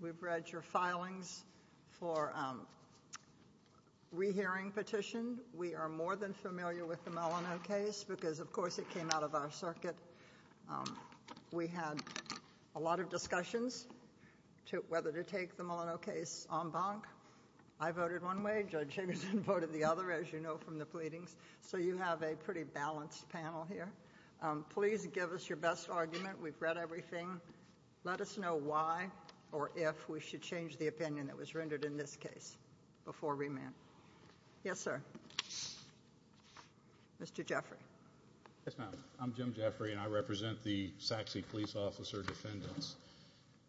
We've read your filings for a re-hearing petition. We are more than familiar with the Milano case because, of course, it came out of our circuit. We had a lot of discussions whether to take the Milano case en banc. I voted one way. Judge Higginson voted the other, as you know from the pleadings. So you have a pretty balanced panel here. Please give us your best argument. We've read everything. Let us know why or if we should change the opinion that was rendered in this case before remand. Yes, sir. Mr. Jeffrey. Yes, ma'am. I'm Jim Jeffrey, and I represent the Sachse police officer defendants.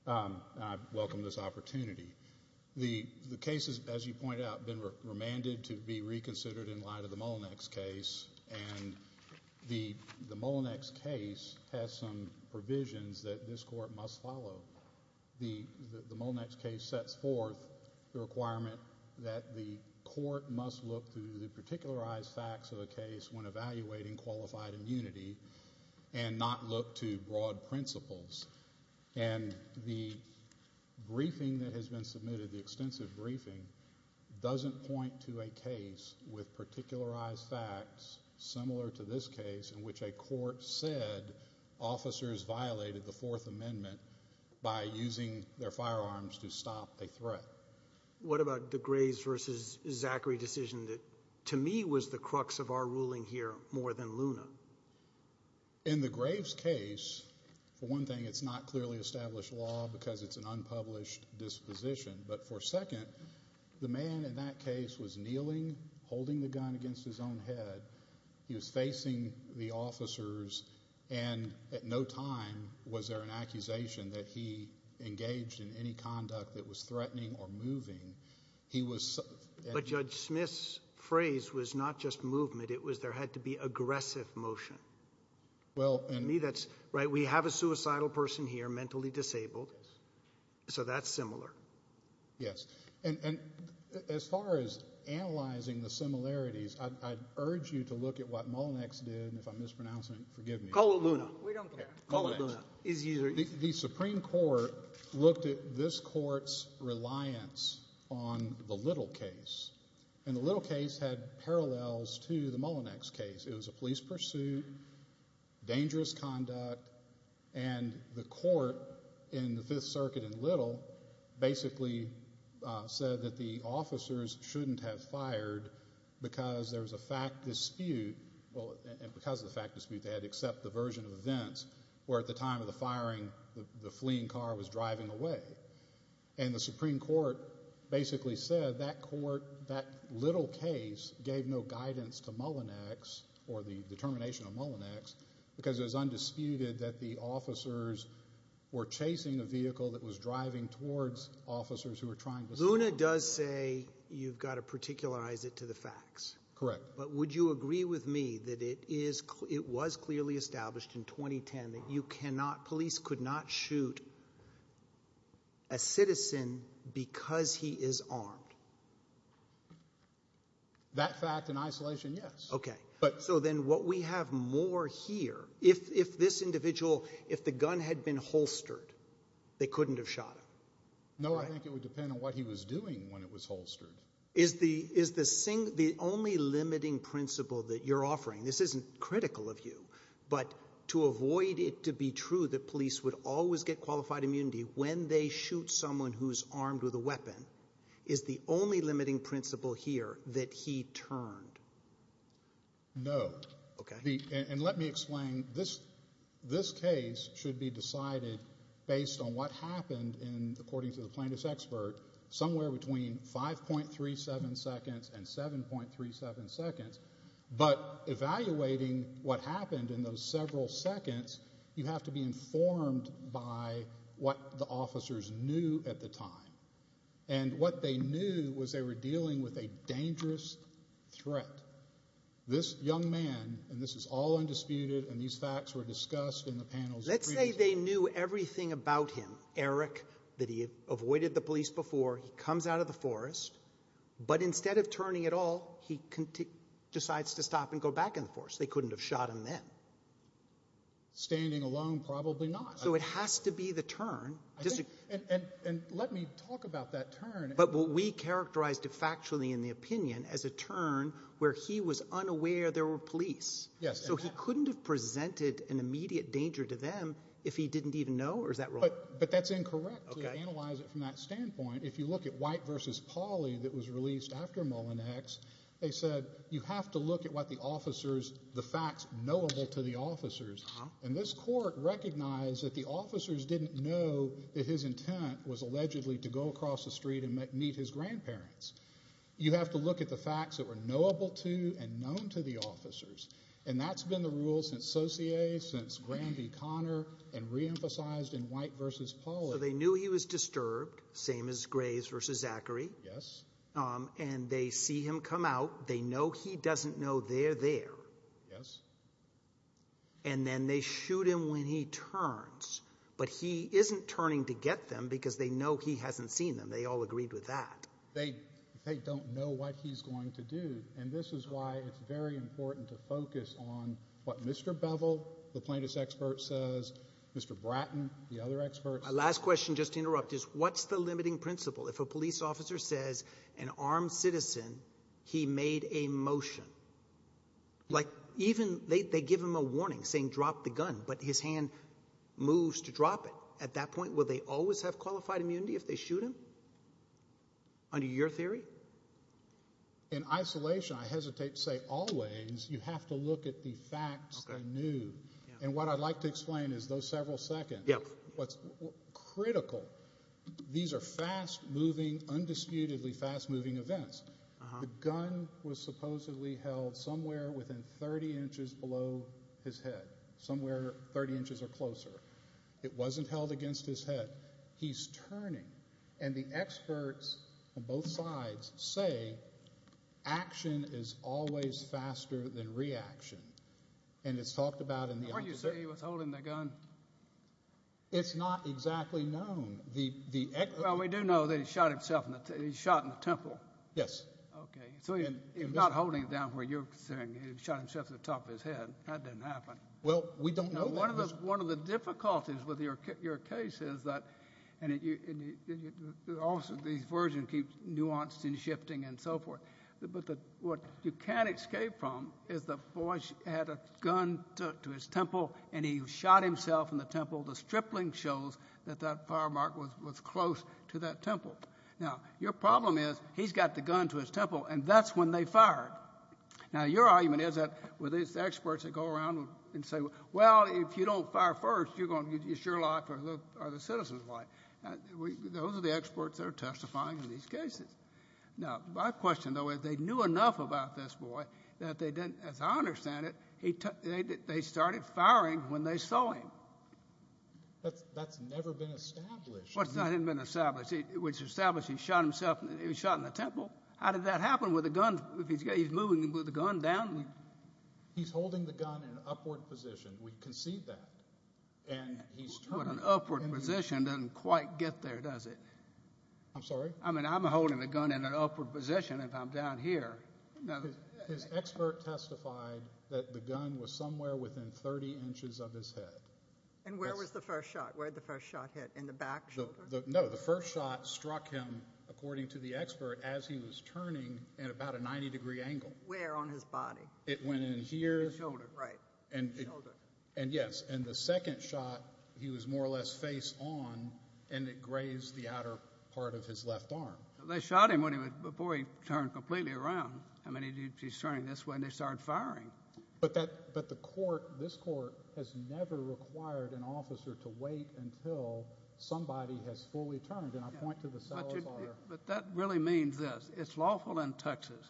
I welcome this opportunity. The case has, as you point out, been remanded to be reconsidered in light of the Mullinex case, and the Mullinex case has some provisions that this court must follow. The Mullinex case sets forth the requirement that the court must look to the particularized facts of the case when evaluating qualified immunity and not look to broad principles. And the briefing that has been submitted, the extensive briefing, doesn't point to a similar to this case in which a court said officers violated the Fourth Amendment by using their firearms to stop a threat. What about the Graves versus Zachary decision that, to me, was the crux of our ruling here more than Luna? In the Graves case, for one thing, it's not clearly established law because it's an unpublished disposition, but for second, the man in that case was kneeling, holding the gun against his own head. He was facing the officers, and at no time was there an accusation that he engaged in any conduct that was threatening or moving. He was... But Judge Smith's phrase was not just movement. It was there had to be aggressive motion. Well... To me, that's... Right, we have a suicidal person here, mentally disabled, so that's similar. Yes. And as far as analyzing the similarities, I'd urge you to look at what Mullinex did, and if I'm mispronouncing it, forgive me. Call it Luna. We don't care. Call it Luna. The Supreme Court looked at this court's reliance on the Little case, and the Little case had parallels to the Mullinex case. It was a police pursuit, dangerous conduct, and the court in the Fifth Circuit in Little basically said that the officers shouldn't have fired because there was a fact dispute, and because of the fact dispute, they had to accept the version of events where at the time of the firing, the fleeing car was driving away. And the Supreme Court basically said that court, that Little case, gave no guidance to Mullinex, or the determination of Mullinex, because it was undisputed that the officers were chasing a vehicle that was driving towards officers who were trying to escape. Luna does say you've got to particularize it to the facts. Correct. But would you agree with me that it was clearly established in 2010 that police could not shoot a citizen because he is armed? That fact in isolation, yes. Okay. So then what we have more here, if this individual, if the gun had been holstered, they couldn't have shot him. No, I think it would depend on what he was doing when it was holstered. Is the only limiting principle that you're offering, this isn't critical of you, but to avoid it to be true that police would always get qualified immunity when they shoot someone who's armed with a weapon, is the only limiting principle here that he turned? No. Okay. And let me explain. This case should be decided based on what happened, according to the plaintiff's expert, somewhere between 5.37 seconds and 7.37 seconds. But evaluating what happened in those several seconds, you have to be informed by what the plaintiff did at the time. And what they knew was they were dealing with a dangerous threat. This young man, and this is all undisputed, and these facts were discussed in the panels previously. Let's say they knew everything about him, Eric, that he avoided the police before, he comes out of the forest, but instead of turning at all, he decides to stop and go back in the forest. They couldn't have shot him then. Standing alone, probably not. So it has to be the turn. And let me talk about that turn. But what we characterized factually in the opinion as a turn where he was unaware there were police. Yes. So he couldn't have presented an immediate danger to them if he didn't even know, or is that wrong? But that's incorrect. Okay. To analyze it from that standpoint, if you look at White v. Pauly that was released after Mullinex, they said you have to look at what the officers, the facts knowable to the officers. And this court recognized that the officers didn't know that his intent was allegedly to go across the street and meet his grandparents. You have to look at the facts that were knowable to and known to the officers. And that's been the rule since Saussure, since Grandi-Connor, and reemphasized in White v. Pauly. So they knew he was disturbed, same as Graves v. Zachary, and they see him come out. They know he doesn't know they're there. Yes. And then they shoot him when he turns. But he isn't turning to get them because they know he hasn't seen them. They all agreed with that. They don't know what he's going to do. And this is why it's very important to focus on what Mr. Bevel, the plaintiff's expert, says, Mr. Bratton, the other experts. Last question, just to interrupt, is what's the limiting principle? If a police officer says, an armed citizen, he made a motion, like even they give him a warning saying drop the gun, but his hand moves to drop it. At that point, will they always have qualified immunity if they shoot him? Under your theory? In isolation, I hesitate to say always. You have to look at the facts they knew. And what I'd like to explain is those several seconds, what's critical. These are fast-moving, undisputedly fast-moving events. The gun was supposedly held somewhere within 30 inches below his head, somewhere 30 inches or closer. It wasn't held against his head. He's turning. And the experts on both sides say action is always faster than reaction. And it's talked about in the- Aren't you saying he was holding the gun? It's not exactly known. The experts- Well, we do know that he shot himself in the temple. Yes. Okay. So he's not holding it down where you're saying he shot himself to the top of his head. That didn't happen. Well, we don't know that. One of the difficulties with your case is that, and also the version keeps nuanced and shifting and so forth, but what you can't escape from is the boy had a gun to his temple and he shot himself in the temple. The stripling shows that that fire mark was close to that temple. Now your problem is he's got the gun to his temple and that's when they fired. Now your argument is that with these experts that go around and say, well, if you don't fire first, it's your life or the citizen's life. Those are the experts that are testifying in these cases. Now my question, though, is they knew enough about this boy that they didn't, as I understand it, they started firing when they saw him. That's never been established. What's not been established? It was established he shot himself. He was shot in the temple. How did that happen with a gun? He's moving with a gun down. He's holding the gun in an upward position. We can see that. But an upward position doesn't quite get there, does it? I'm sorry? I mean, I'm holding the gun in an upward position if I'm down here. His expert testified that the gun was somewhere within 30 inches of his head. And where was the first shot? Where did the first shot hit? In the back shoulder? No, the first shot struck him, according to the expert, as he was turning at about a 90 degree angle. Where? On his body? It went in here. In the shoulder, right. In the shoulder. And yes, and the second shot, he was more or less face on and it grazed the outer part of his left arm. They shot him before he turned completely around. I mean, he's turning this way and they started firing. But the court, this court, has never required an officer to wait until somebody has fully turned. And I point to the cell fire. But that really means this. It's lawful in Texas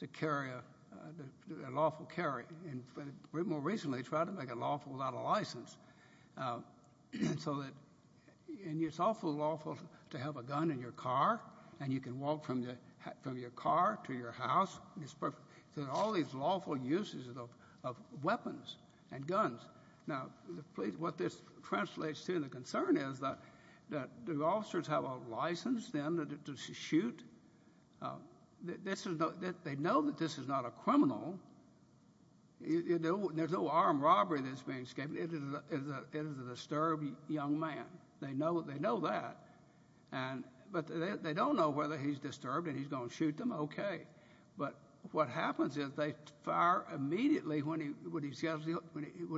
to carry a lawful carry. And more recently, they tried to make it lawful without a license. So that, and it's also lawful to have a gun in your car and you can walk from your car to your house. It's perfect. So there's all these lawful uses of weapons and guns. Now, what this translates to and the concern is that the officers have a license then to shoot. This is, they know that this is not a criminal, you know, there's no armed robbery that's being escaped. It is a disturbed young man. They know that. But they don't know whether he's disturbed and he's going to shoot them, okay. But what happens is they fire immediately when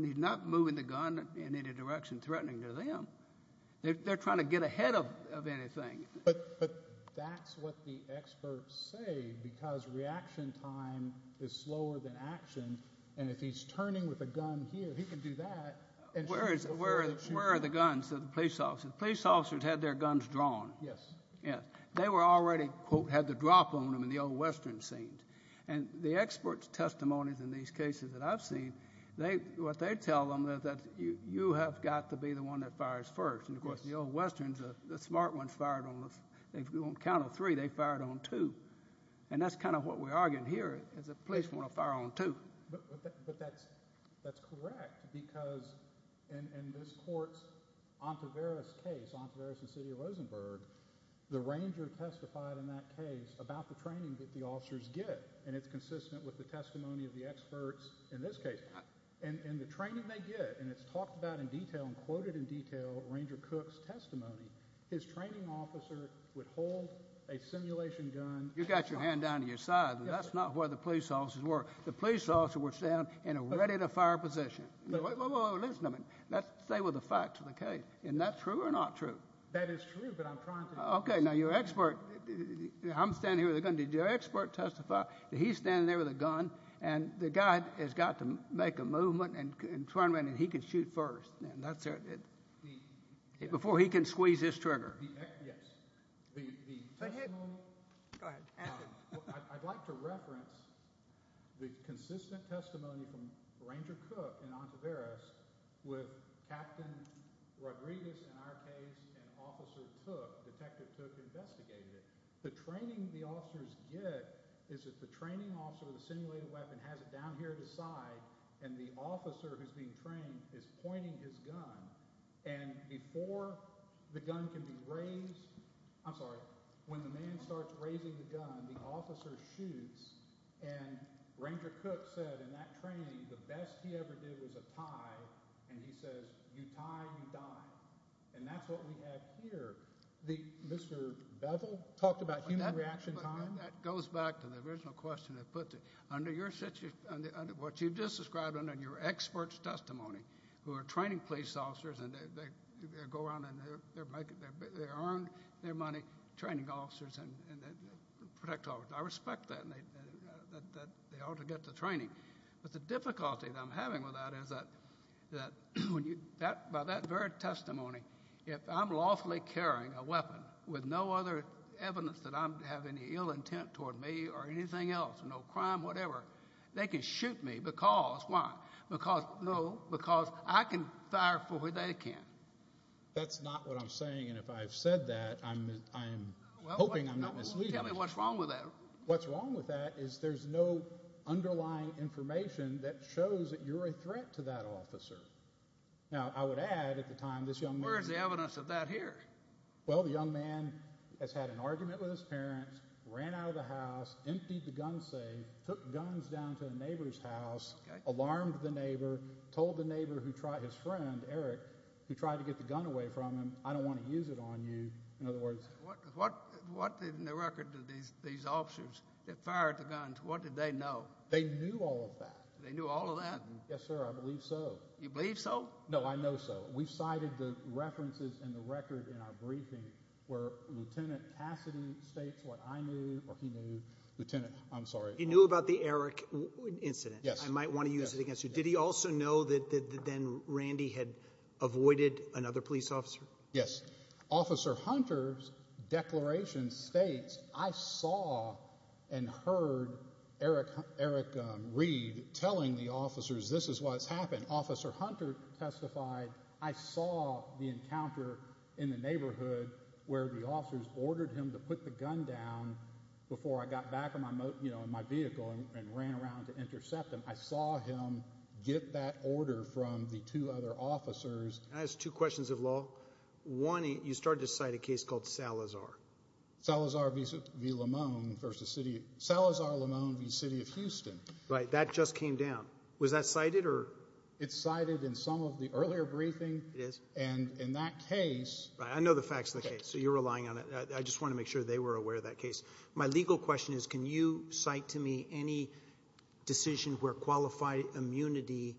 he's not moving the gun in any direction threatening to them. They're trying to get ahead of anything. But that's what the experts say because reaction time is slower than action. And if he's turning with a gun here, he can do that and shoot them. Where are the guns of the police officers? Police officers had their guns drawn. Yes. Yes. They were already, quote, had the drop on them in the old western scenes. And the experts' testimonies in these cases that I've seen, what they tell them is that you have got to be the one that fires first. And of course, the old westerns, the smart ones fired on, if you want to count to three, they fired on two. And that's kind of what we're arguing here, is the police want to fire on two. But that's correct because in this court's Ontiveros case, Ontiveros and City of Rosenberg, the ranger testified in that case about the training that the officers get. And it's consistent with the testimony of the experts in this case. And the training they get, and it's talked about in detail and quoted in detail, Ranger Cook's testimony, his training officer would hold a simulation gun. You've got your hand down to your side, but that's not where the police officers were. The police officers were standing in a ready-to-fire position. Whoa, whoa, whoa, listen to me. Let's stay with the facts of the case. And that's true or not true? That is true, but I'm trying to... Okay, now your expert, I'm standing here with a gun. Did your expert testify that he's standing there with a gun, and the guy has got to make a movement and turn around, and he can shoot first? And that's... Before he can squeeze his trigger. Yes. The testimony... Go ahead, ask him. I'd like to reference the consistent testimony from Ranger Cook in Ontiveros with Capt. Rodriguez in our case and Officer Tuck, Detective Tuck investigated it. The training the officers get is that the training officer with the simulated weapon has it down here at his side, and the officer who's being trained is pointing his gun. And before the gun can be raised... I'm sorry, when the man starts raising the gun, the officer shoots, and Ranger Cook said in that training the best he ever did was a tie, and he says, you tie, you die. And that's what we have here. Mr. Bevel talked about human reaction time. That goes back to the original question that puts it under your... What you just described under your expert's testimony, who are training police officers, and they go around and they earn their money training officers and protect officers. I respect that, and they ought to get the training. But the difficulty that I'm having with that is that by that very testimony, if I'm lawfully carrying a weapon with no other evidence that I have any ill intent toward me or anything else, no crime, whatever, they can shoot me because, why? Because, no, because I can fire for what they can't. That's not what I'm saying, and if I've said that, I'm hoping I'm not misleading. Tell me what's wrong with that. What's wrong with that is there's no underlying information that shows that you're a threat to that officer. Now, I would add, at the time, this young man... Where is the evidence of that here? Well, the young man has had an argument with his parents, ran out of the house, emptied the gun safe, took guns down to a neighbor's house, alarmed the neighbor, told the neighbor who tried... His friend, Eric, who tried to get the gun away from him, I don't want to use it on you. In other words... What in the record did these officers that fired the guns, what did they know? They knew all of that. They knew all of that? Yes, sir. I believe so. You believe so? No, I know so. We've cited the references in the record in our briefing where Lieutenant Cassidy states what I knew or he knew. Lieutenant, I'm sorry. He knew about the Eric incident. Yes. I might want to use it against you. Did he also know that then Randy had avoided another police officer? Yes. Officer Hunter's declaration states, I saw and heard Eric Reed telling the officers, this is what's happened. When Officer Hunter testified, I saw the encounter in the neighborhood where the officers ordered him to put the gun down before I got back in my vehicle and ran around to intercept him. I saw him get that order from the two other officers. Can I ask two questions of law? One, you started to cite a case called Salazar. Salazar v. Limon v. City of Houston. Right. That just came down. Was that cited or? It's cited in some of the earlier briefing. It is? And in that case. Right. I know the facts of the case, so you're relying on it. I just want to make sure they were aware of that case. My legal question is, can you cite to me any decision where qualified immunity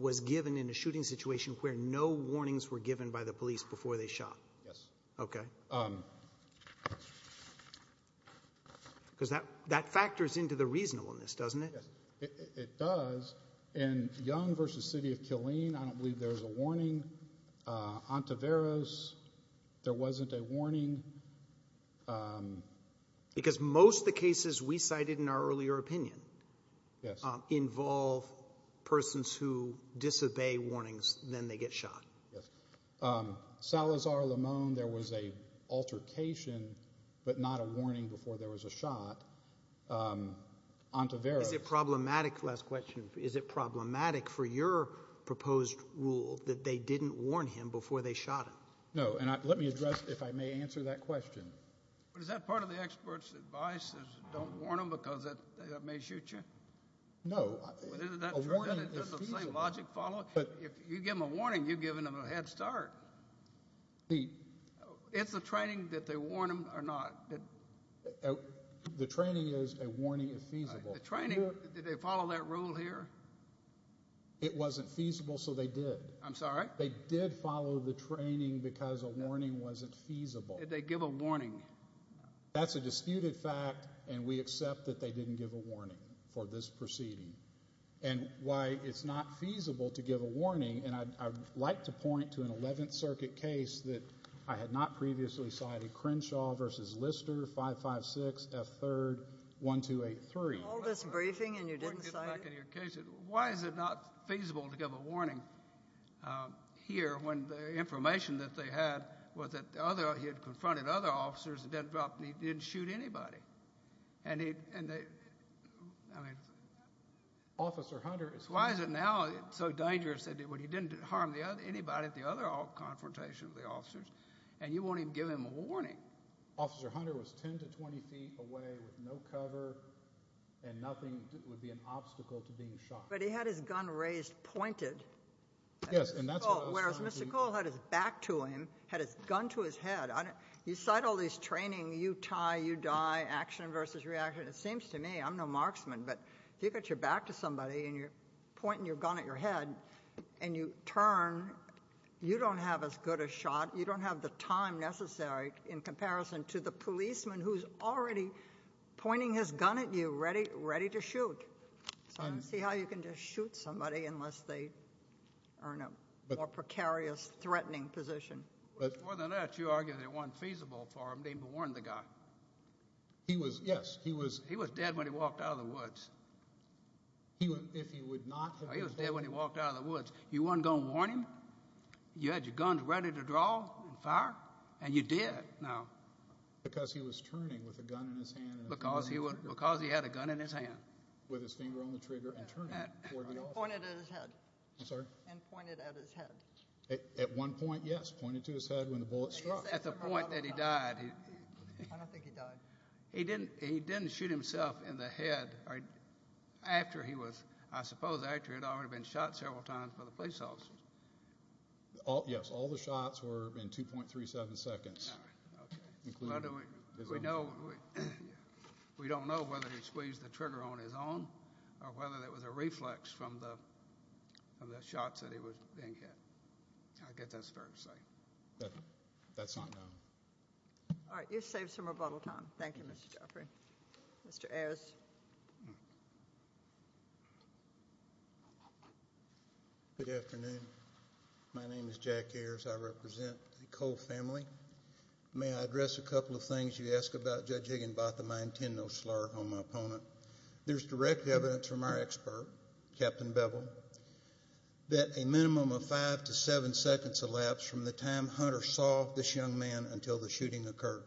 was given in a shooting situation where no warnings were given by the police before they shot? Yes. Okay. Because that factors into the reasonableness, doesn't it? Yes. It does. In Young v. City of Killeen, I don't believe there was a warning. Ontiveros, there wasn't a warning. Because most of the cases we cited in our earlier opinion involve persons who disobey warnings, then they get shot. Yes. Salazar v. Limon, there was an altercation, but not a warning before there was a shot. Ontiveros. Is it problematic, last question, is it problematic for your proposed rule that they didn't warn him before they shot him? No. And let me address, if I may answer that question. But is that part of the expert's advice is don't warn them because that may shoot you? No. But isn't that true? Doesn't the same logic follow? But if you give them a warning, you're giving them a head start. It's a training that they warn them or not. The training is a warning if feasible. The training, did they follow that rule here? It wasn't feasible, so they did. I'm sorry? They did follow the training because a warning wasn't feasible. Did they give a warning? That's a disputed fact, and we accept that they didn't give a warning for this proceeding. And why it's not feasible to give a warning, and I'd like to point to an 11th Circuit case that I had not previously cited, Crenshaw v. Lister, 556 F. 3rd, 1283. You called this briefing and you didn't cite it? Why is it not feasible to give a warning here when the information that they had was that he had confronted other officers and he didn't shoot anybody? And he, and they, I mean. Officer Hunter is. Why is it now so dangerous that he didn't harm anybody at the other confrontation of officers, and you won't even give him a warning? Officer Hunter was 10 to 20 feet away with no cover, and nothing would be an obstacle to being shot. But he had his gun raised, pointed. Yes, and that's what I was trying to do. Whereas Mr. Cole had his back to him, had his gun to his head. You cite all these training, you tie, you die, action versus reaction. It seems to me, I'm no marksman, but if you get your back to somebody and you're You don't have as good a shot. You don't have the time necessary in comparison to the policeman who's already pointing his gun at you, ready to shoot. So I don't see how you can just shoot somebody unless they are in a more precarious, threatening position. But more than that, you argue that it wasn't feasible for him to even warn the guy. He was, yes, he was. He was dead when he walked out of the woods. He would, if he would not. He was dead when he walked out of the woods. You weren't going to warn him? You had your guns ready to draw and fire? And you did. No. Because he was turning with a gun in his hand. Because he had a gun in his hand. With his finger on the trigger and turning toward the officer. And pointed at his head. I'm sorry? And pointed at his head. At one point, yes. Pointed to his head when the bullet struck. At the point that he died. I don't think he died. He didn't shoot himself in the head. After he was, I suppose after he had already been shot several times by the police officers. Yes. All the shots were in 2.37 seconds. All right. Okay. We don't know whether he squeezed the trigger on his own. Or whether it was a reflex from the shots that he was being hit. I guess that's fair to say. That's not known. All right. You've saved some rebuttal time. Thank you, Mr. Jeffrey. Mr. Ayers. Good afternoon. My name is Jack Ayers. I represent the Cole family. May I address a couple of things you ask about, Judge Higginbotham? I intend no slur on my opponent. There's direct evidence from our expert, Captain Bevel, that a minimum of five to seven seconds elapsed from the time Hunter saw this young man until the shooting occurred.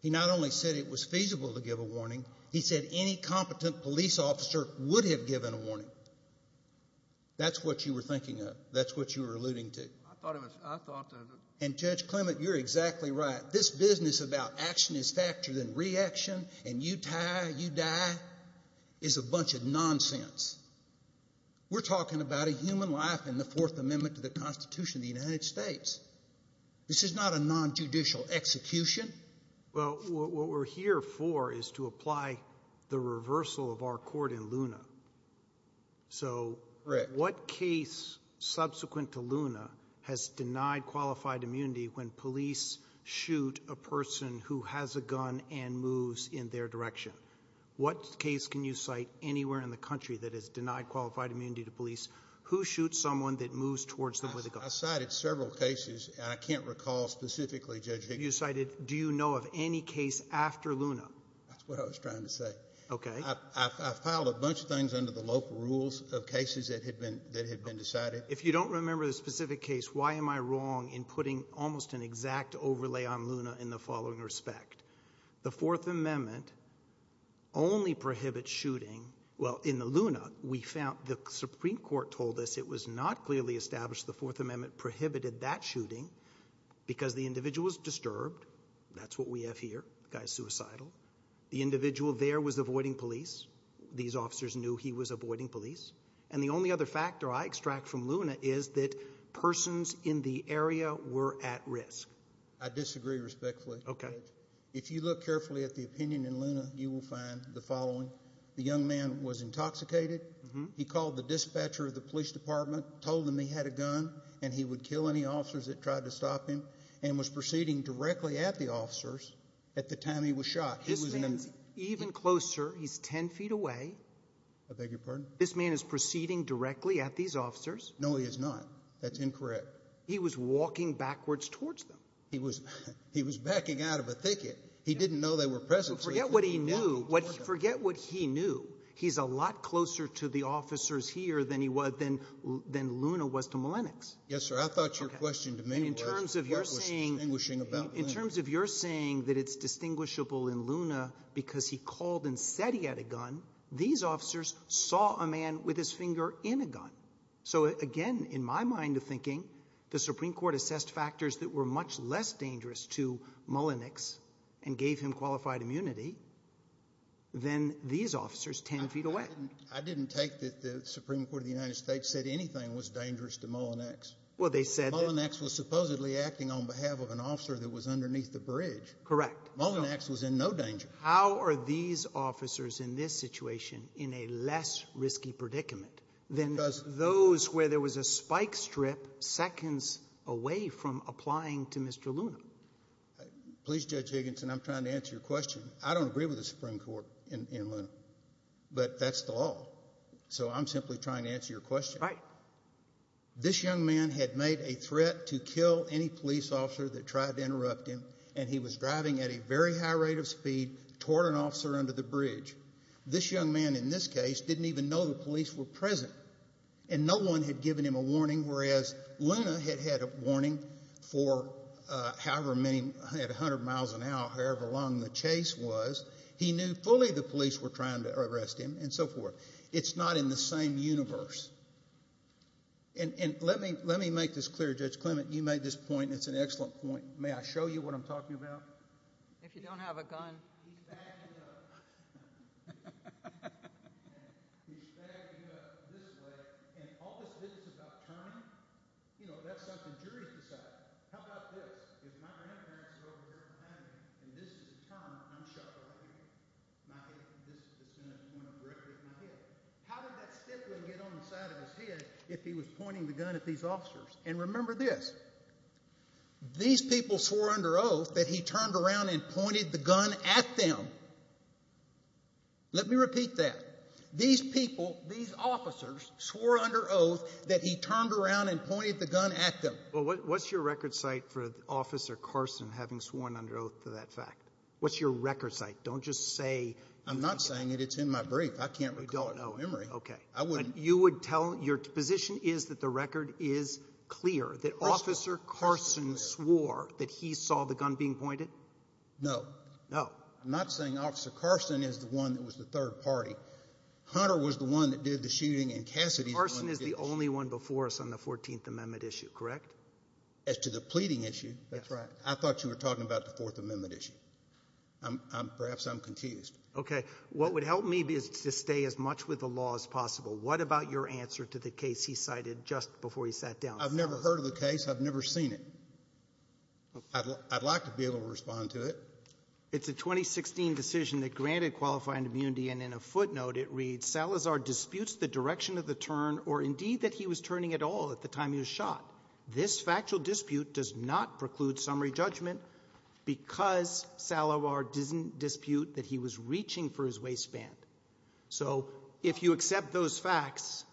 He not only said it was feasible to give a warning. He said any competent police officer would have given a warning. That's what you were thinking of. That's what you were alluding to. I thought of it. I thought of it. And, Judge Clement, you're exactly right. This business about action is factored in reaction, and you die, you die, is a bunch of nonsense. We're talking about a human life in the Fourth Amendment to the Constitution of the United States. This is not a non-judicial execution. Well, what we're here for is to apply the reversal of our court in Luna. So, what case subsequent to Luna has denied qualified immunity when police shoot a person who has a gun and moves in their direction? What case can you cite anywhere in the country that has denied qualified immunity to police who shoots someone that moves towards them with a gun? I cited several cases, and I can't recall specifically, Judge Higginbotham. You cited, do you know of any case after Luna? That's what I was trying to say. Okay. I filed a bunch of things under the local rules of cases that had been decided. If you don't remember the specific case, why am I wrong in putting almost an exact overlay on Luna in the following respect? The Fourth Amendment only prohibits shooting. Well, in the Luna, we found, the Supreme Court told us it was not clearly established the individual was disturbed. That's what we have here. The guy's suicidal. The individual there was avoiding police. These officers knew he was avoiding police. And the only other factor I extract from Luna is that persons in the area were at risk. I disagree respectfully. Okay. If you look carefully at the opinion in Luna, you will find the following. The young man was intoxicated. He called the dispatcher of the police department, told them he had a gun, and he would kill any officers that tried to stop him, and was proceeding directly at the officers at the time he was shot. His man's even closer. He's 10 feet away. I beg your pardon? This man is proceeding directly at these officers. No, he is not. That's incorrect. He was walking backwards towards them. He was backing out of a thicket. He didn't know they were present. Forget what he knew. Forget what he knew. He's a lot closer to the officers here than he was, than Luna was to Malenix. Yes, sir. I thought your question to me was what was distinguishing about Luna. In terms of your saying that it's distinguishable in Luna because he called and said he had a gun, these officers saw a man with his finger in a gun. So, again, in my mind of thinking, the Supreme Court assessed factors that were much less dangerous to Malenix and gave him qualified immunity than these officers 10 feet away. I didn't take that the Supreme Court of the United States said anything was dangerous to Malenix. Malenix was supposedly acting on behalf of an officer that was underneath the bridge. Correct. Malenix was in no danger. How are these officers in this situation in a less risky predicament than those where there was a spike strip seconds away from applying to Mr. Luna? Please, Judge Higginson, I'm trying to answer your question. I don't agree with the Supreme Court in Luna, but that's the law. So, I'm simply trying to answer your question. Right. This young man had made a threat to kill any police officer that tried to interrupt him and he was driving at a very high rate of speed toward an officer under the bridge. This young man, in this case, didn't even know the police were present and no one had given him a warning, whereas Luna had had a warning for however many, at 100 miles an hour. What Chase was, he knew fully the police were trying to arrest him and so forth. It's not in the same universe. And let me make this clear, Judge Clement, you made this point and it's an excellent point. May I show you what I'm talking about? If you don't have a gun. He's bagged it up. He's bagged it up this way. And all this business about timing, you know, that's something juries decide. How about this? If my grandparents are over here in Miami and this is the time, I'm shot right here. This is the scene that's going to break my head. How did that stickling get on the side of his head if he was pointing the gun at these officers? And remember this, these people swore under oath that he turned around and pointed the gun at them. Let me repeat that. These people, these officers, swore under oath that he turned around and pointed the gun at them. Well, what's your record site for Officer Carson having sworn under oath to that fact? What's your record site? Don't just say. I'm not saying it. It's in my brief. I can't recall. I don't know. OK, I wouldn't. You would tell your position is that the record is clear that Officer Carson swore that he saw the gun being pointed? No, no, not saying Officer Carson is the one that was the third party. Hunter was the one that did the shooting and Cassidy. Officer Carson is the only one before us on the 14th Amendment issue, correct? As to the pleading issue. That's right. I thought you were talking about the Fourth Amendment issue. Perhaps I'm confused. OK, what would help me is to stay as much with the law as possible. What about your answer to the case he cited just before he sat down? I've never heard of the case. I've never seen it. I'd like to be able to respond to it. It's a 2016 decision that granted qualifying immunity. And in a footnote, it reads, Salazar disputes the direction of the turn or indeed that he was turning at all at the time he was shot. This factual dispute does not preclude summary judgment because Salazar didn't dispute that he was reaching for his waistband. So if you accept those facts,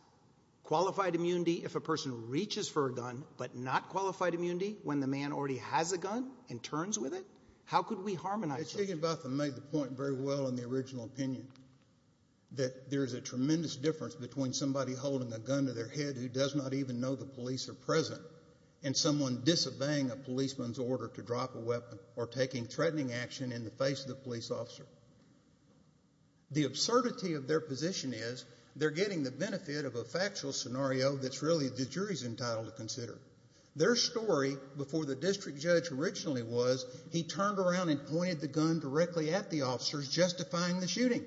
qualified immunity if a person reaches for a gun but not qualified immunity when the man already has a gun and turns with it? How could we harmonize it? Chigginbotham made the point very well in the original opinion that there's a tremendous difference between somebody holding a gun to their head who does not even know the police are present and someone disobeying a policeman's order to drop a weapon or taking threatening action in the face of the police officer. The absurdity of their position is they're getting the benefit of a factual scenario that's really the jury's entitled to consider. Their story before the district judge originally was he turned around and pointed the gun directly at the officers justifying the shooting.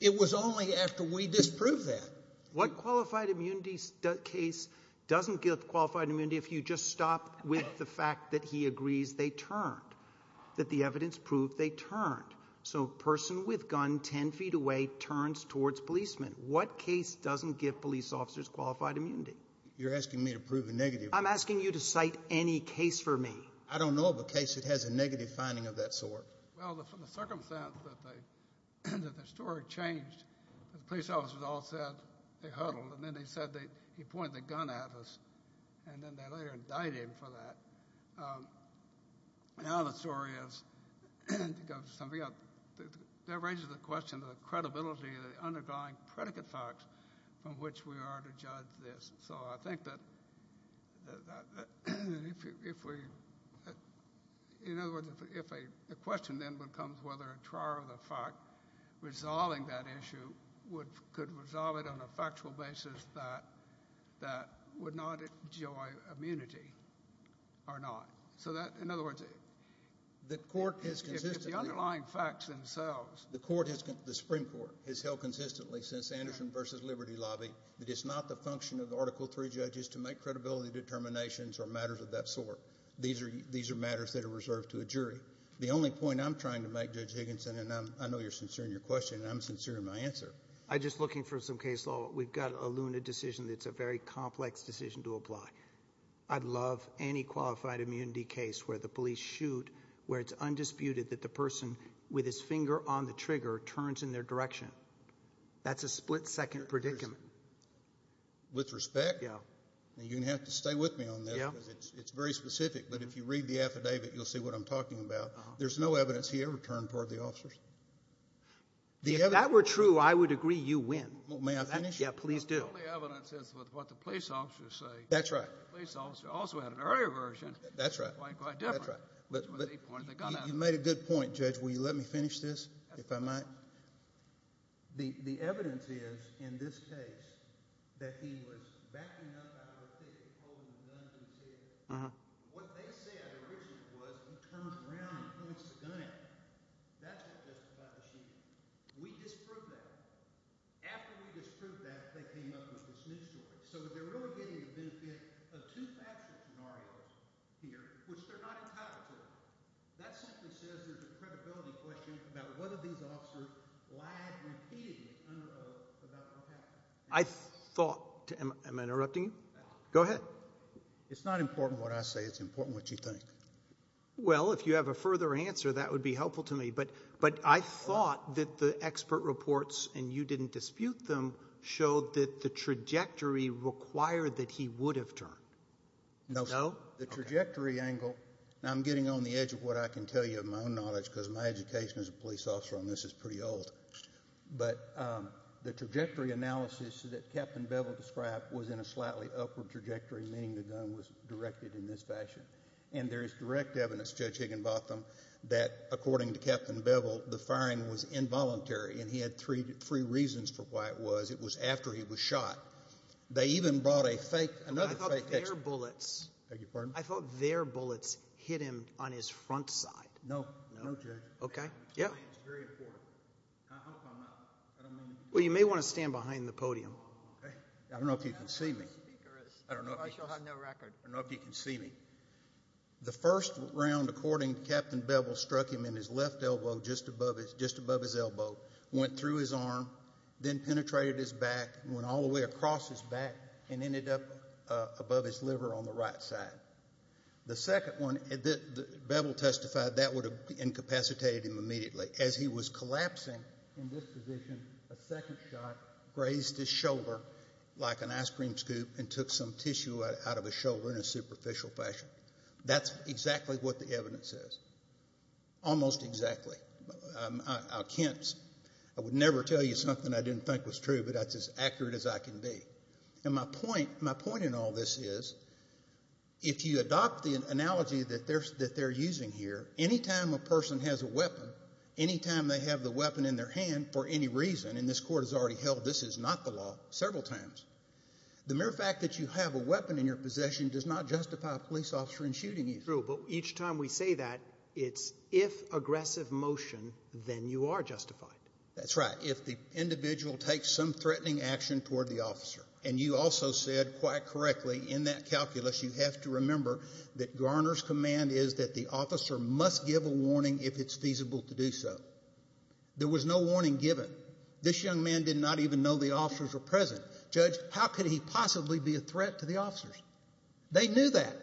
It was only after we disproved that. What qualified immunity case doesn't give qualified immunity if you just stop with the fact that he agrees they turned, that the evidence proved they turned? So a person with a gun 10 feet away turns towards policemen. What case doesn't give police officers qualified immunity? You're asking me to prove a negative. I'm asking you to cite any case for me. I don't know of a case that has a negative finding of that sort. Well, the circumstance that the story changed, the police officers all said they huddled and then they said he pointed the gun at us and then they later indicted him for that. Now the story is, to go something else, that raises the question of the credibility of the underlying predicate facts from which we are to judge this. So I think that if we, in other words, if a question then becomes whether a trial of the fact resolving that issue could resolve it on a factual basis that would not enjoy immunity or not. So that, in other words, if the underlying facts themselves. The Supreme Court has held consistently since Anderson v. Liberty Lobby that it's not the function of Article III judges to make credibility determinations or matters of that sort. These are matters that are reserved to a jury. The only point I'm trying to make, Judge Higginson, and I know you're sincere in your question and I'm sincere in my answer. I'm just looking for some case law. We've got a Luna decision that's a very complex decision to apply. I'd love any qualified immunity case where the police shoot, where it's undisputed that the person with his finger on the trigger turns in their direction. That's a split-second predicament. With respect? Yeah. You're going to have to stay with me on that because it's very specific. But if you read the affidavit, you'll see what I'm talking about. There's no evidence he ever turned toward the officers. If that were true, I would agree you win. May I finish? Yeah, please do. The only evidence is with what the police officers say. That's right. The police officer also had an earlier version. That's right. Quite different. You made a good point, Judge. Will you let me finish this, if I might? The evidence is in this case that he was backing up out of the thicket, holding a gun to his head. What they said originally was he turns around and points the gun at him. That's what justified the shooting. We disproved that. After we disproved that, they came up with this new story. So they're really getting the benefit of two factual scenarios here, which they're not entitled to. That simply says there's a credibility question about whether these officers lied repeatedly under oath about what happened. I thought—am I interrupting you? Go ahead. It's not important what I say. It's important what you think. Well, if you have a further answer, that would be helpful to me. But I thought that the expert reports, and you didn't dispute them, showed that the trajectory required that he would have turned. No. The trajectory angle—now, I'm getting on the edge of what I can tell you of my own knowledge because my education as a police officer on this is pretty old. But the trajectory analysis that Captain Bevel described was in a slightly upward trajectory, meaning the gun was directed in this fashion. And there is direct evidence, Judge Higginbotham, that according to Captain Bevel, the firing was involuntary. And he had three reasons for why it was. It was after he was shot. They even brought a fake—another fake— I thought their bullets— I beg your pardon? I thought their bullets hit him on his front side. No. No, Judge. Okay. Yeah. It's very important. I hope I'm not— Well, you may want to stand behind the podium. Okay. I don't know if you can see me. I don't know if you can see me. The first round, according to Captain Bevel, struck him in his left elbow just above his elbow, went through his arm, then penetrated his back, went all the way across his back, and ended up above his liver on the right side. The second one, Bevel testified, that would have incapacitated him immediately. As he was collapsing in this position, a second shot grazed his shoulder like an ice cream scoop and took some tissue out of his shoulder in a superficial fashion. That's exactly what the evidence says. Almost exactly. I can't—I would never tell you something I didn't think was true, but that's as accurate as I can be. And my point in all this is, if you adopt the analogy that they're using here, any time a person has a weapon, any time they have the weapon in their hand for any reason, and this court has already held this is not the law several times, the mere fact that you have a weapon in your possession does not justify a police officer in shooting you. True, but each time we say that, it's if aggressive motion, then you are justified. That's right. If the individual takes some threatening action toward the officer, and you also said quite correctly in that calculus you have to remember that Garner's command is that the officer must give a warning if it's feasible to do so. There was no warning given. This young man did not even know the officers were present. Judge, how could he possibly be a threat to the officers? They knew that.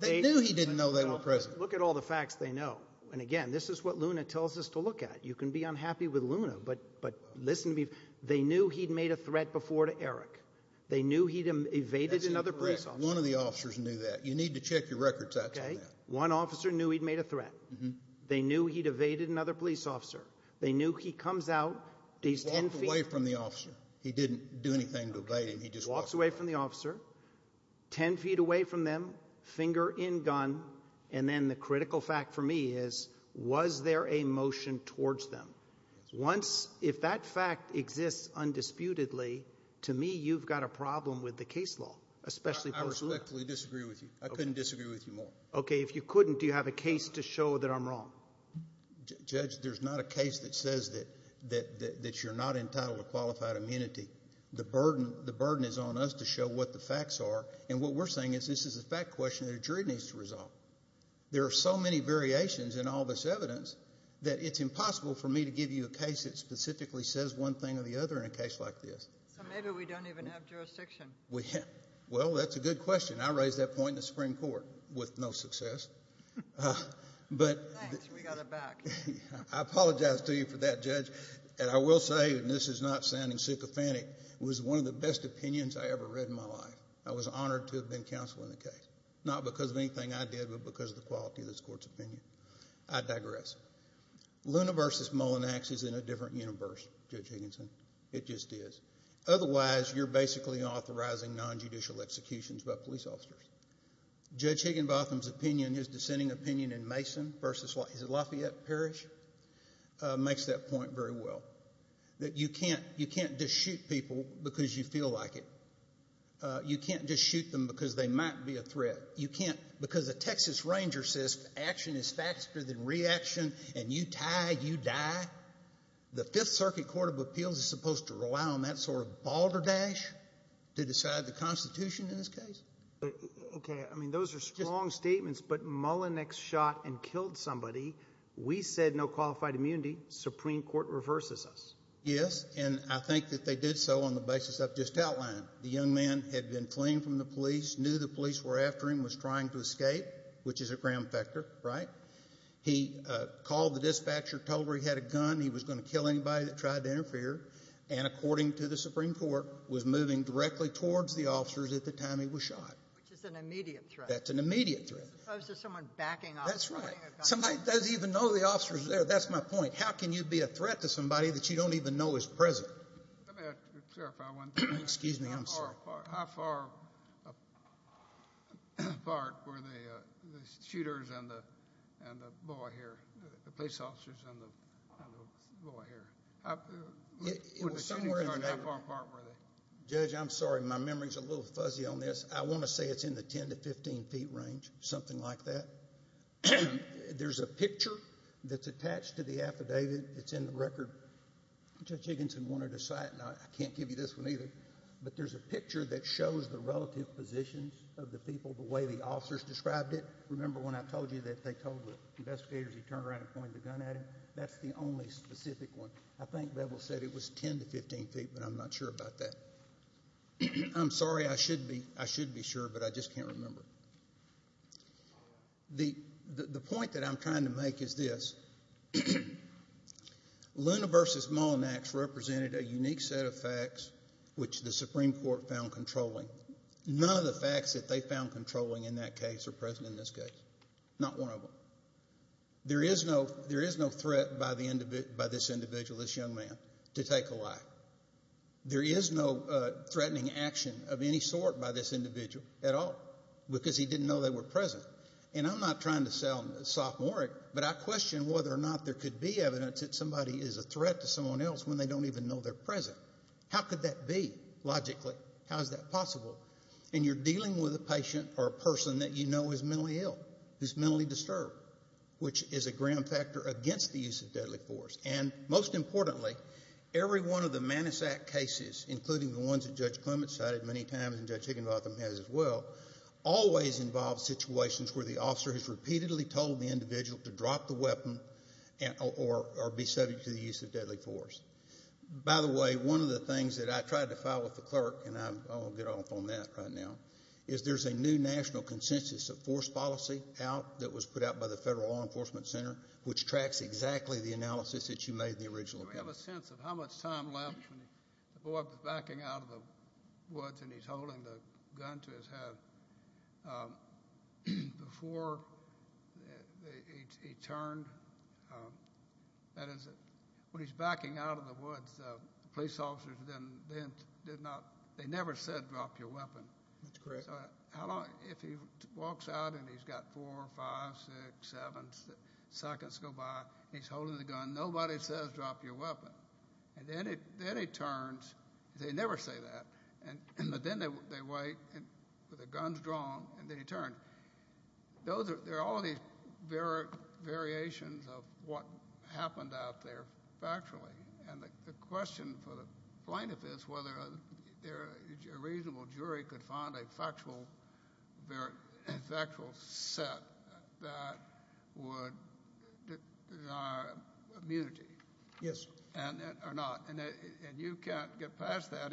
They knew he didn't know they were present. Look at all the facts they know. And again, this is what Luna tells us to look at. You can be unhappy with Luna, but listen to me. They knew he'd made a threat before to Eric. They knew he'd evaded another police officer. That's incorrect. One of the officers knew that. You need to check your record sets on that. Okay. One officer knew he'd made a threat. Mm-hmm. They knew he'd evaded another police officer. They knew he comes out. Walked away from the officer. He didn't do anything to evade him. He just walked away. Walked away from the officer. Ten feet away from them, finger in gun. And then the critical fact for me is, was there a motion towards them? Once, if that fact exists undisputedly, to me, you've got a problem with the case law. I respectfully disagree with you. I couldn't disagree with you more. Okay. If you couldn't, do you have a case to show that I'm wrong? Judge, there's not a case that says that you're not entitled to qualified immunity. The burden is on us to show what the facts are. And what we're saying is this is a fact question that a jury needs to resolve. There are so many variations in all this evidence that it's impossible for me to give you a case that specifically says one thing or the other in a case like this. So maybe we don't even have jurisdiction. Well, that's a good question. I raised that point in the Supreme Court with no success. Thanks. We got it back. I apologize to you for that, Judge. And I will say, and this is not sounding sycophantic, it was one of the best opinions I ever read in my life. I was honored to have been counsel in the case, not because of anything I did, but because of the quality of this court's opinion. I digress. Luna v. Mullinax is in a different universe, Judge Higginson. It just is. Otherwise, you're basically authorizing nonjudicial executions by police officers. Judge Higginbotham's opinion, his dissenting opinion in Mason v. Lafayette Parish, makes that point very well, that you can't just shoot people because you feel like it. You can't just shoot them because they might be a threat. You can't, because the Texas Ranger says action is faster than reaction, and you tie, you die. The Fifth Circuit Court of Appeals is supposed to rely on that sort of balderdash to decide the Constitution in this case? Okay. I mean, those are strong statements, but Mullinax shot and killed somebody. We said no qualified immunity. The Supreme Court reverses us. Yes, and I think that they did so on the basis I've just outlined. The young man had been fleeing from the police, knew the police were after him, was trying to escape, which is a gram factor, right? He called the dispatcher, told her he had a gun, he was going to kill anybody that tried to interfere, and according to the Supreme Court, was moving directly towards the officers at the time he was shot. Which is an immediate threat. That's an immediate threat. As opposed to someone backing off. That's right. Somebody doesn't even know the officers are there. That's my point. How can you be a threat to somebody that you don't even know is present? Let me clarify one thing. Excuse me, I'm sorry. How far apart were the shooters and the boy here, the police officers and the boy here? It was somewhere in the middle. How far apart were they? Judge, I'm sorry, my memory's a little fuzzy on this. I want to say it's in the 10 to 15 feet range, something like that. There's a picture that's attached to the affidavit. It's in the record. Judge Higginson wanted a sight, and I can't give you this one either. But there's a picture that shows the relative positions of the people, the way the officers described it. Remember when I told you that they told the investigators he turned around and pointed the gun at him? That's the only specific one. I think Bevel said it was 10 to 15 feet, but I'm not sure about that. I'm sorry, I should be sure, but I just can't remember. The point that I'm trying to make is this. Luna v. Malnax represented a unique set of facts which the Supreme Court found controlling. None of the facts that they found controlling in that case are present in this case, not one of them. There is no threat by this individual, this young man, to take a life. There is no threatening action of any sort by this individual at all because he didn't know they were present. And I'm not trying to sound sophomoric, but I question whether or not there could be evidence that somebody is a threat to someone else when they don't even know they're present. How could that be, logically? How is that possible? And you're dealing with a patient or a person that you know is mentally ill, who's mentally disturbed, which is a grim factor against the use of deadly force. And most importantly, every one of the Manisak cases, including the ones that Judge Clement cited many times and Judge Higginbotham has as well, always involve situations where the officer has repeatedly told the individual to drop the weapon or be subject to the use of deadly force. By the way, one of the things that I tried to file with the clerk, and I'll get off on that right now, is there's a new national consensus of force policy out that was put out by the Federal Law Enforcement Center which tracks exactly the analysis that you made in the original case. Do we have a sense of how much time left when the boy was backing out of the woods and he's holding the gun to his head? Before he turned, that is, when he's backing out of the woods, the police officers then did not, they never said drop your weapon. That's correct. If he walks out and he's got four, five, six, seven seconds to go by and he's holding the gun, nobody says drop your weapon. And then he turns. They never say that. But then they wait, the gun's drawn, and then he turns. There are all these variations of what happened out there factually. And the question for the plaintiff is whether a reasonable jury could find a factual set that would deny immunity. Yes. Or not. And you can't get past that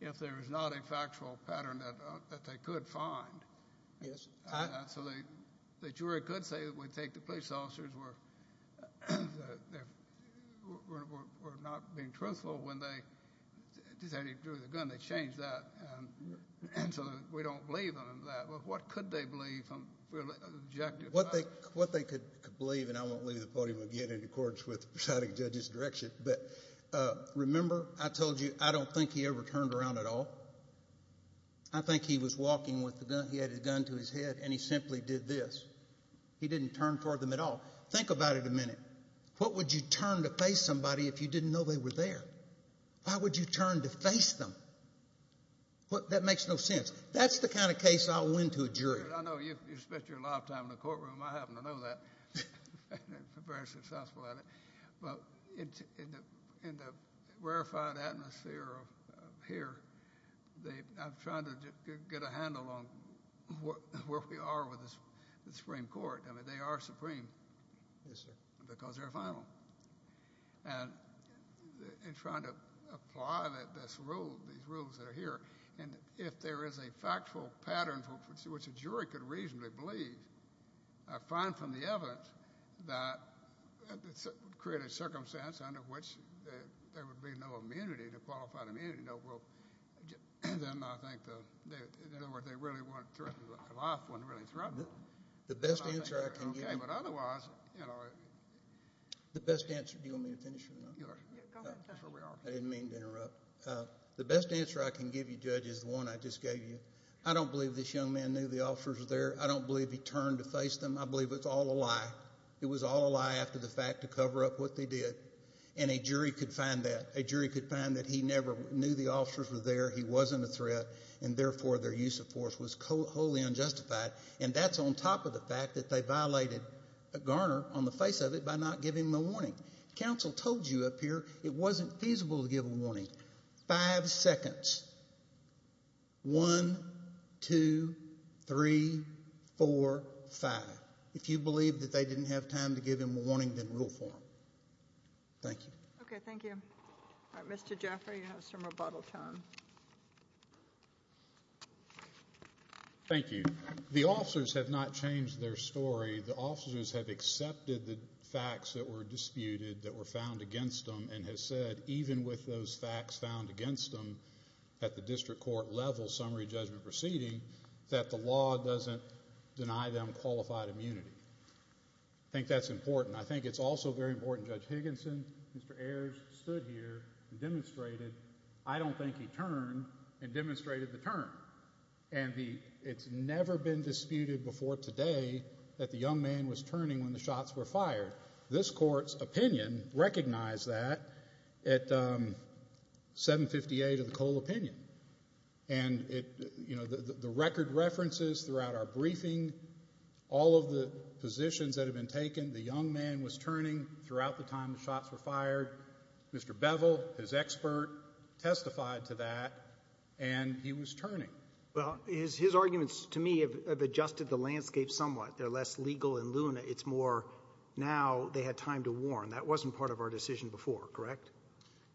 if there is not a factual pattern that they could find. Yes. So the jury could say that we take the police officers were not being truthful when they decided to draw the gun. They changed that. And so we don't believe in that. But what could they believe objectively? What they could believe, and I won't leave the podium again in accordance with the presiding judge's direction, but remember I told you I don't think he ever turned around at all. I think he was walking with the gun. He had his gun to his head, and he simply did this. He didn't turn toward them at all. Think about it a minute. What would you turn to face somebody if you didn't know they were there? Why would you turn to face them? That makes no sense. That's the kind of case I'll win to a jury. I know. You spent your lifetime in the courtroom. I happen to know that. I'm very successful at it. But in the rarefied atmosphere of here, I'm trying to get a handle on where we are with the Supreme Court. I mean, they are supreme because they're final. And in trying to apply these rules that are here, and if there is a factual pattern which a jury could reasonably believe, I find from the evidence that it would create a circumstance under which there would be no immunity, no qualified immunity. Then I think they really weren't threatened. The life wasn't really threatened. The best answer I can give you. Okay, but otherwise, you know. The best answer. Do you want me to finish or not? Go ahead. I didn't mean to interrupt. The best answer I can give you, Judge, is the one I just gave you. I don't believe this young man knew the officers were there. I don't believe he turned to face them. I believe it's all a lie. It was all a lie after the fact to cover up what they did. And a jury could find that. A jury could find that he never knew the officers were there, he wasn't a threat, and therefore their use of force was wholly unjustified. And that's on top of the fact that they violated Garner on the face of it by not giving him a warning. Counsel told you up here it wasn't feasible to give a warning. Five seconds. One, two, three, four, five. If you believe that they didn't have time to give him a warning, then rule for him. Thank you. Okay, thank you. All right, Mr. Jaffray, you have some rebuttal time. Thank you. The officers have not changed their story. The officers have accepted the facts that were disputed that were found against them and have said even with those facts found against them at the district court level summary judgment proceeding that the law doesn't deny them qualified immunity. I think that's important. I think it's also very important Judge Higginson, Mr. Ayers, stood here and demonstrated I don't think he turned and demonstrated the turn. And it's never been disputed before today that the young man was turning when the shots were fired. This Court's opinion recognized that at 758 of the Cole opinion. And, you know, the record references throughout our briefing, all of the positions that have been taken, the young man was turning throughout the time the shots were fired. Mr. Bevel, his expert, testified to that, and he was turning. Well, his arguments to me have adjusted the landscape somewhat. They're less legal in Luna. It's more now they had time to warn. That wasn't part of our decision before, correct?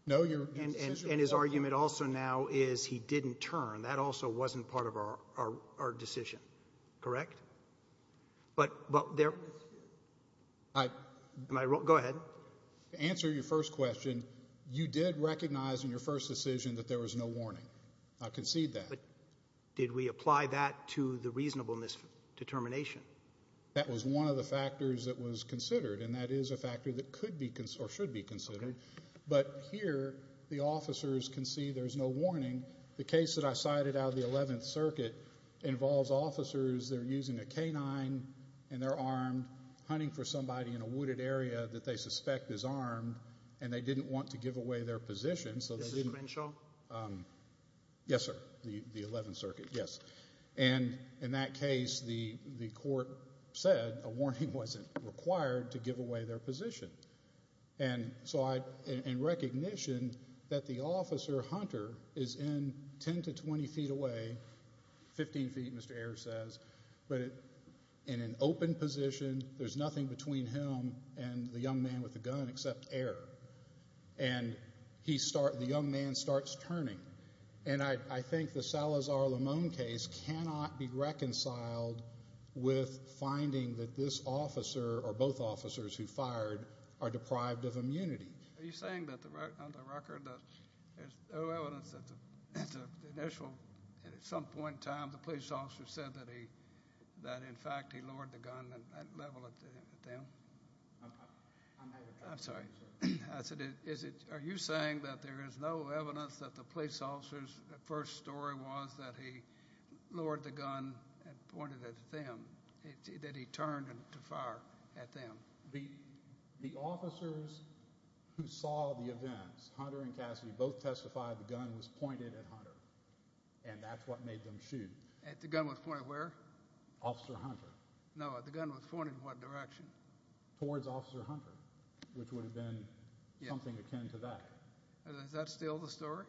No, your decision was. And his argument also now is he didn't turn. That also wasn't part of our decision, correct? But there... I... Go ahead. To answer your first question, you did recognize in your first decision that there was no warning. I concede that. But did we apply that to the reasonableness determination? That was one of the factors that was considered, and that is a factor that could be or should be considered. Okay. But here the officers can see there's no warning. The case that I cited out of the 11th Circuit involves officers that are using a K-9, and they're armed, hunting for somebody in a wooded area that they suspect is armed, and they didn't want to give away their position, so they didn't... This is Crenshaw? Yes, sir, the 11th Circuit, yes. And in that case, the court said a warning wasn't required to give away their position. And so in recognition that the officer, Hunter, is in 10 to 20 feet away, 15 feet, Mr. Ayer says, but in an open position, there's nothing between him and the young man with the gun except air. And the young man starts turning. And I think the Salazar-Limon case cannot be reconciled with finding that this officer or both officers who fired are deprived of immunity. Are you saying that on the record that there's no evidence that at the initial, at some point in time, the police officer said that in fact he lowered the gun at that level at them? I'm sorry. Are you saying that there is no evidence that the police officer's first story was that he lowered the gun and pointed at them, that he turned to fire at them? The officers who saw the events, Hunter and Cassidy, both testified the gun was pointed at Hunter, and that's what made them shoot. At the gun was pointed where? Officer Hunter. No, the gun was pointed in what direction? Towards Officer Hunter, which would have been something akin to that. Is that still the story?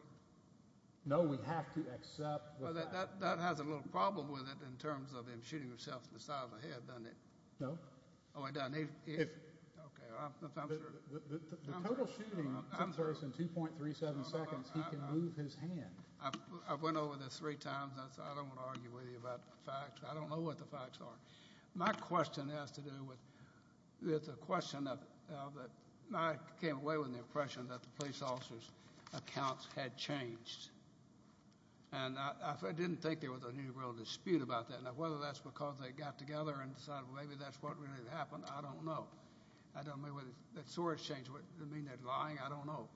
No, we have to accept that. That has a little problem with it in terms of him shooting himself in the side of the head, doesn't it? No. Oh, it doesn't? The total shooting took place in 2.37 seconds. He can move his hand. I've went over this three times. I don't want to argue with you about facts. I don't know what the facts are. My question has to do with the question of it. I came away with the impression that the police officer's accounts had changed, and I didn't think there was any real dispute about that. Now, whether that's because they got together and decided maybe that's what really happened, I don't know. I don't know whether that story has changed. Does it mean they're lying? I don't know.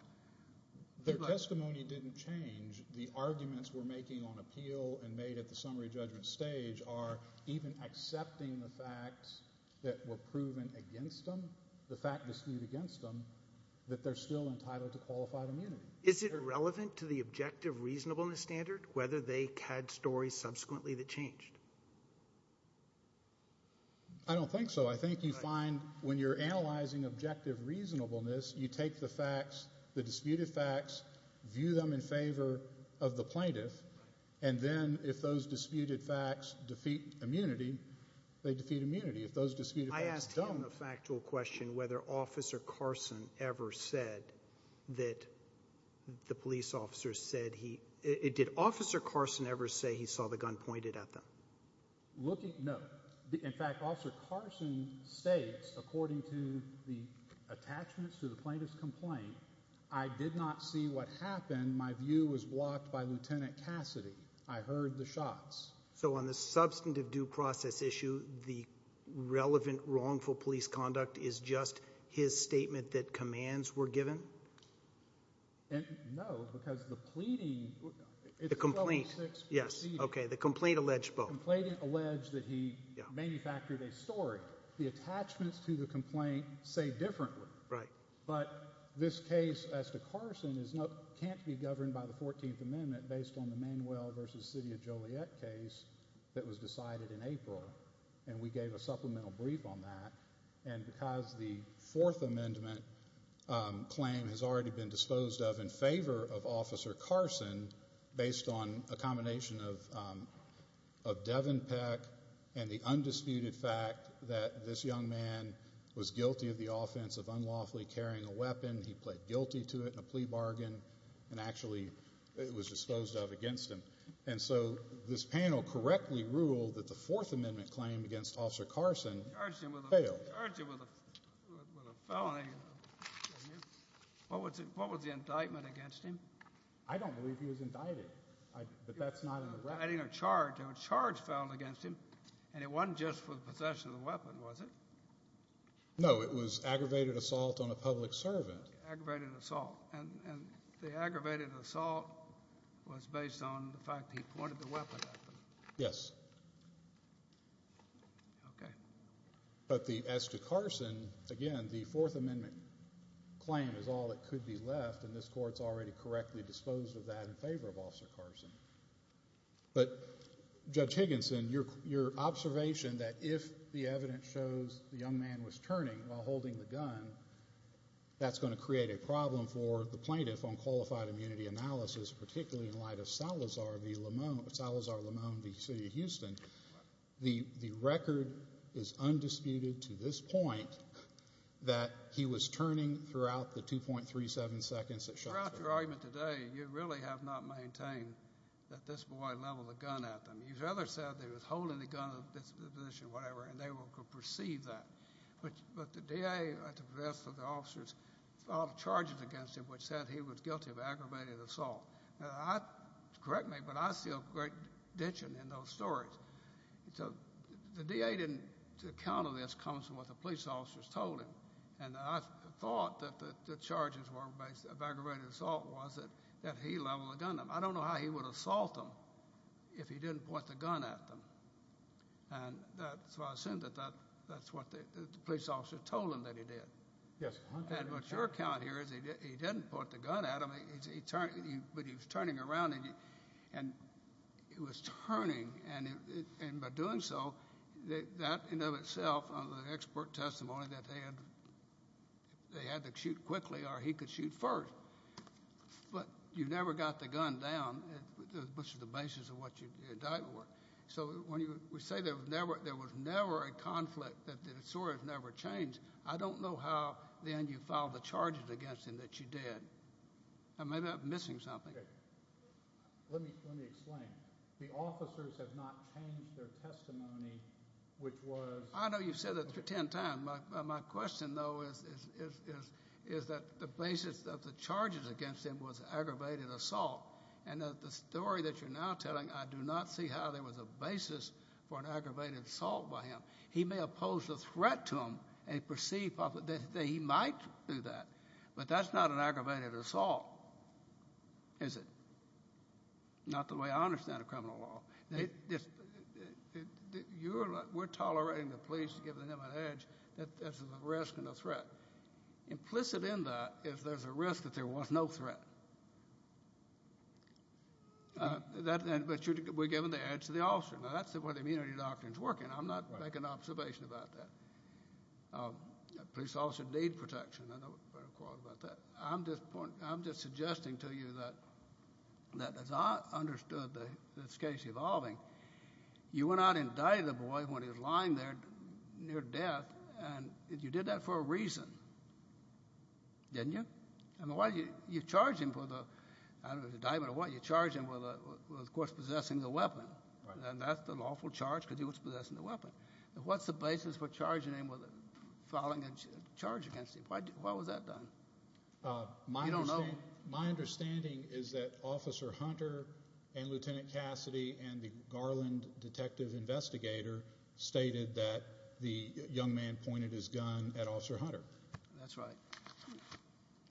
Their testimony didn't change. The arguments we're making on appeal and made at the summary judgment stage are even accepting the facts that were proven against them, the fact disputed against them, that they're still entitled to qualified immunity. Is it irrelevant to the objective reasonableness standard whether they had stories subsequently that changed? I don't think so. I think you find when you're analyzing objective reasonableness, you take the facts, the disputed facts, view them in favor of the plaintiff, and then if those disputed facts defeat immunity, they defeat immunity. If those disputed facts don't— I asked him a factual question whether Officer Carson ever said that the police officer said he— did Officer Carson ever say he saw the gun pointed at them? No. In fact, Officer Carson states, according to the attachments to the plaintiff's complaint, I did not see what happened. My view was blocked by Lieutenant Cassidy. I heard the shots. So on the substantive due process issue, the relevant wrongful police conduct is just his statement that commands were given? No, because the pleading— The complaint, yes. Okay, the complaint alleged both. The complaint alleged that he manufactured a story. The attachments to the complaint say differently. But this case as to Carson can't be governed by the 14th Amendment based on the Manuel v. City of Joliet case that was decided in April, and we gave a supplemental brief on that. And because the Fourth Amendment claim has already been disposed of in favor of Officer Carson based on a combination of Devin Peck and the undisputed fact that this young man was guilty of the offense of unlawfully carrying a weapon, he pled guilty to it in a plea bargain, and actually it was disposed of against him. And so this panel correctly ruled that the Fourth Amendment claim against Officer Carson failed. Charged him with a felony. What was the indictment against him? I don't believe he was indicted, but that's not in the record. Indicting a charge. A charge fell against him, and it wasn't just for the possession of the weapon, was it? No, it was aggravated assault on a public servant. Aggravated assault. And the aggravated assault was based on the fact that he pointed the weapon at them. Yes. Okay. But as to Carson, again, the Fourth Amendment claim is all that could be left, and this Court's already correctly disposed of that in favor of Officer Carson. But Judge Higginson, your observation that if the evidence shows the young man was turning while holding the gun, that's going to create a problem for the plaintiff on qualified immunity analysis, particularly in light of Salazar v. Lamone v. City of Houston. The record is undisputed to this point that he was turning throughout the 2.37 seconds that shot. Throughout your argument today, you really have not maintained that this boy leveled a gun at them. You rather said that he was holding the gun in this position, whatever, and they will perceive that. But the DA, at the behest of the officers, filed charges against him which said he was guilty of aggravated assault. Correct me, but I see a great dention in those stories. The DA didn't account of this comes from what the police officers told him, and I thought that the charges were based on the aggravated assault was that he leveled a gun at them. I don't know how he would assault them if he didn't point the gun at them. So I assume that that's what the police officers told him that he did. Yes. And what's your account here is he didn't point the gun at them, but he was turning around, and it was turning, and by doing so, that in and of itself, under the expert testimony, that they had to shoot quickly or he could shoot first. But you never got the gun down, which is the basis of what your indictment were. So when you say there was never a conflict, that the story has never changed, I don't know how then you filed the charges against him that you did. Maybe I'm missing something. Let me explain. The officers have not changed their testimony, which was— I know you've said that 10 times. My question, though, is that the basis of the charges against him was aggravated assault, and that the story that you're now telling, I do not see how there was a basis for an aggravated assault by him. He may oppose the threat to him and perceive that he might do that, but that's not an aggravated assault, is it? Not the way I understand a criminal law. We're tolerating the police giving them an edge that there's a risk and a threat. Implicit in that is there's a risk that there was no threat. But we're giving the edge to the officer. Now, that's where the immunity doctrine is working. I'm not making an observation about that. Police officers need protection. I'm just suggesting to you that as I understood this case evolving, you went out and indicted the boy when he was lying there near death, and you did that for a reason, didn't you? You charged him with a—I don't know if it was indictment or what. You charged him with, of course, possessing a weapon. And that's the lawful charge because he was possessing a weapon. What's the basis for charging him with filing a charge against him? Why was that done? We don't know. My understanding is that Officer Hunter and Lieutenant Cassidy and the Garland detective investigator stated that the young man pointed his gun at Officer Hunter. That's right.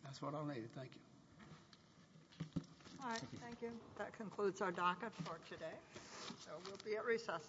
That's what I'll need. Thank you. All right. Thank you. That concludes our docket for today. We'll be at recess.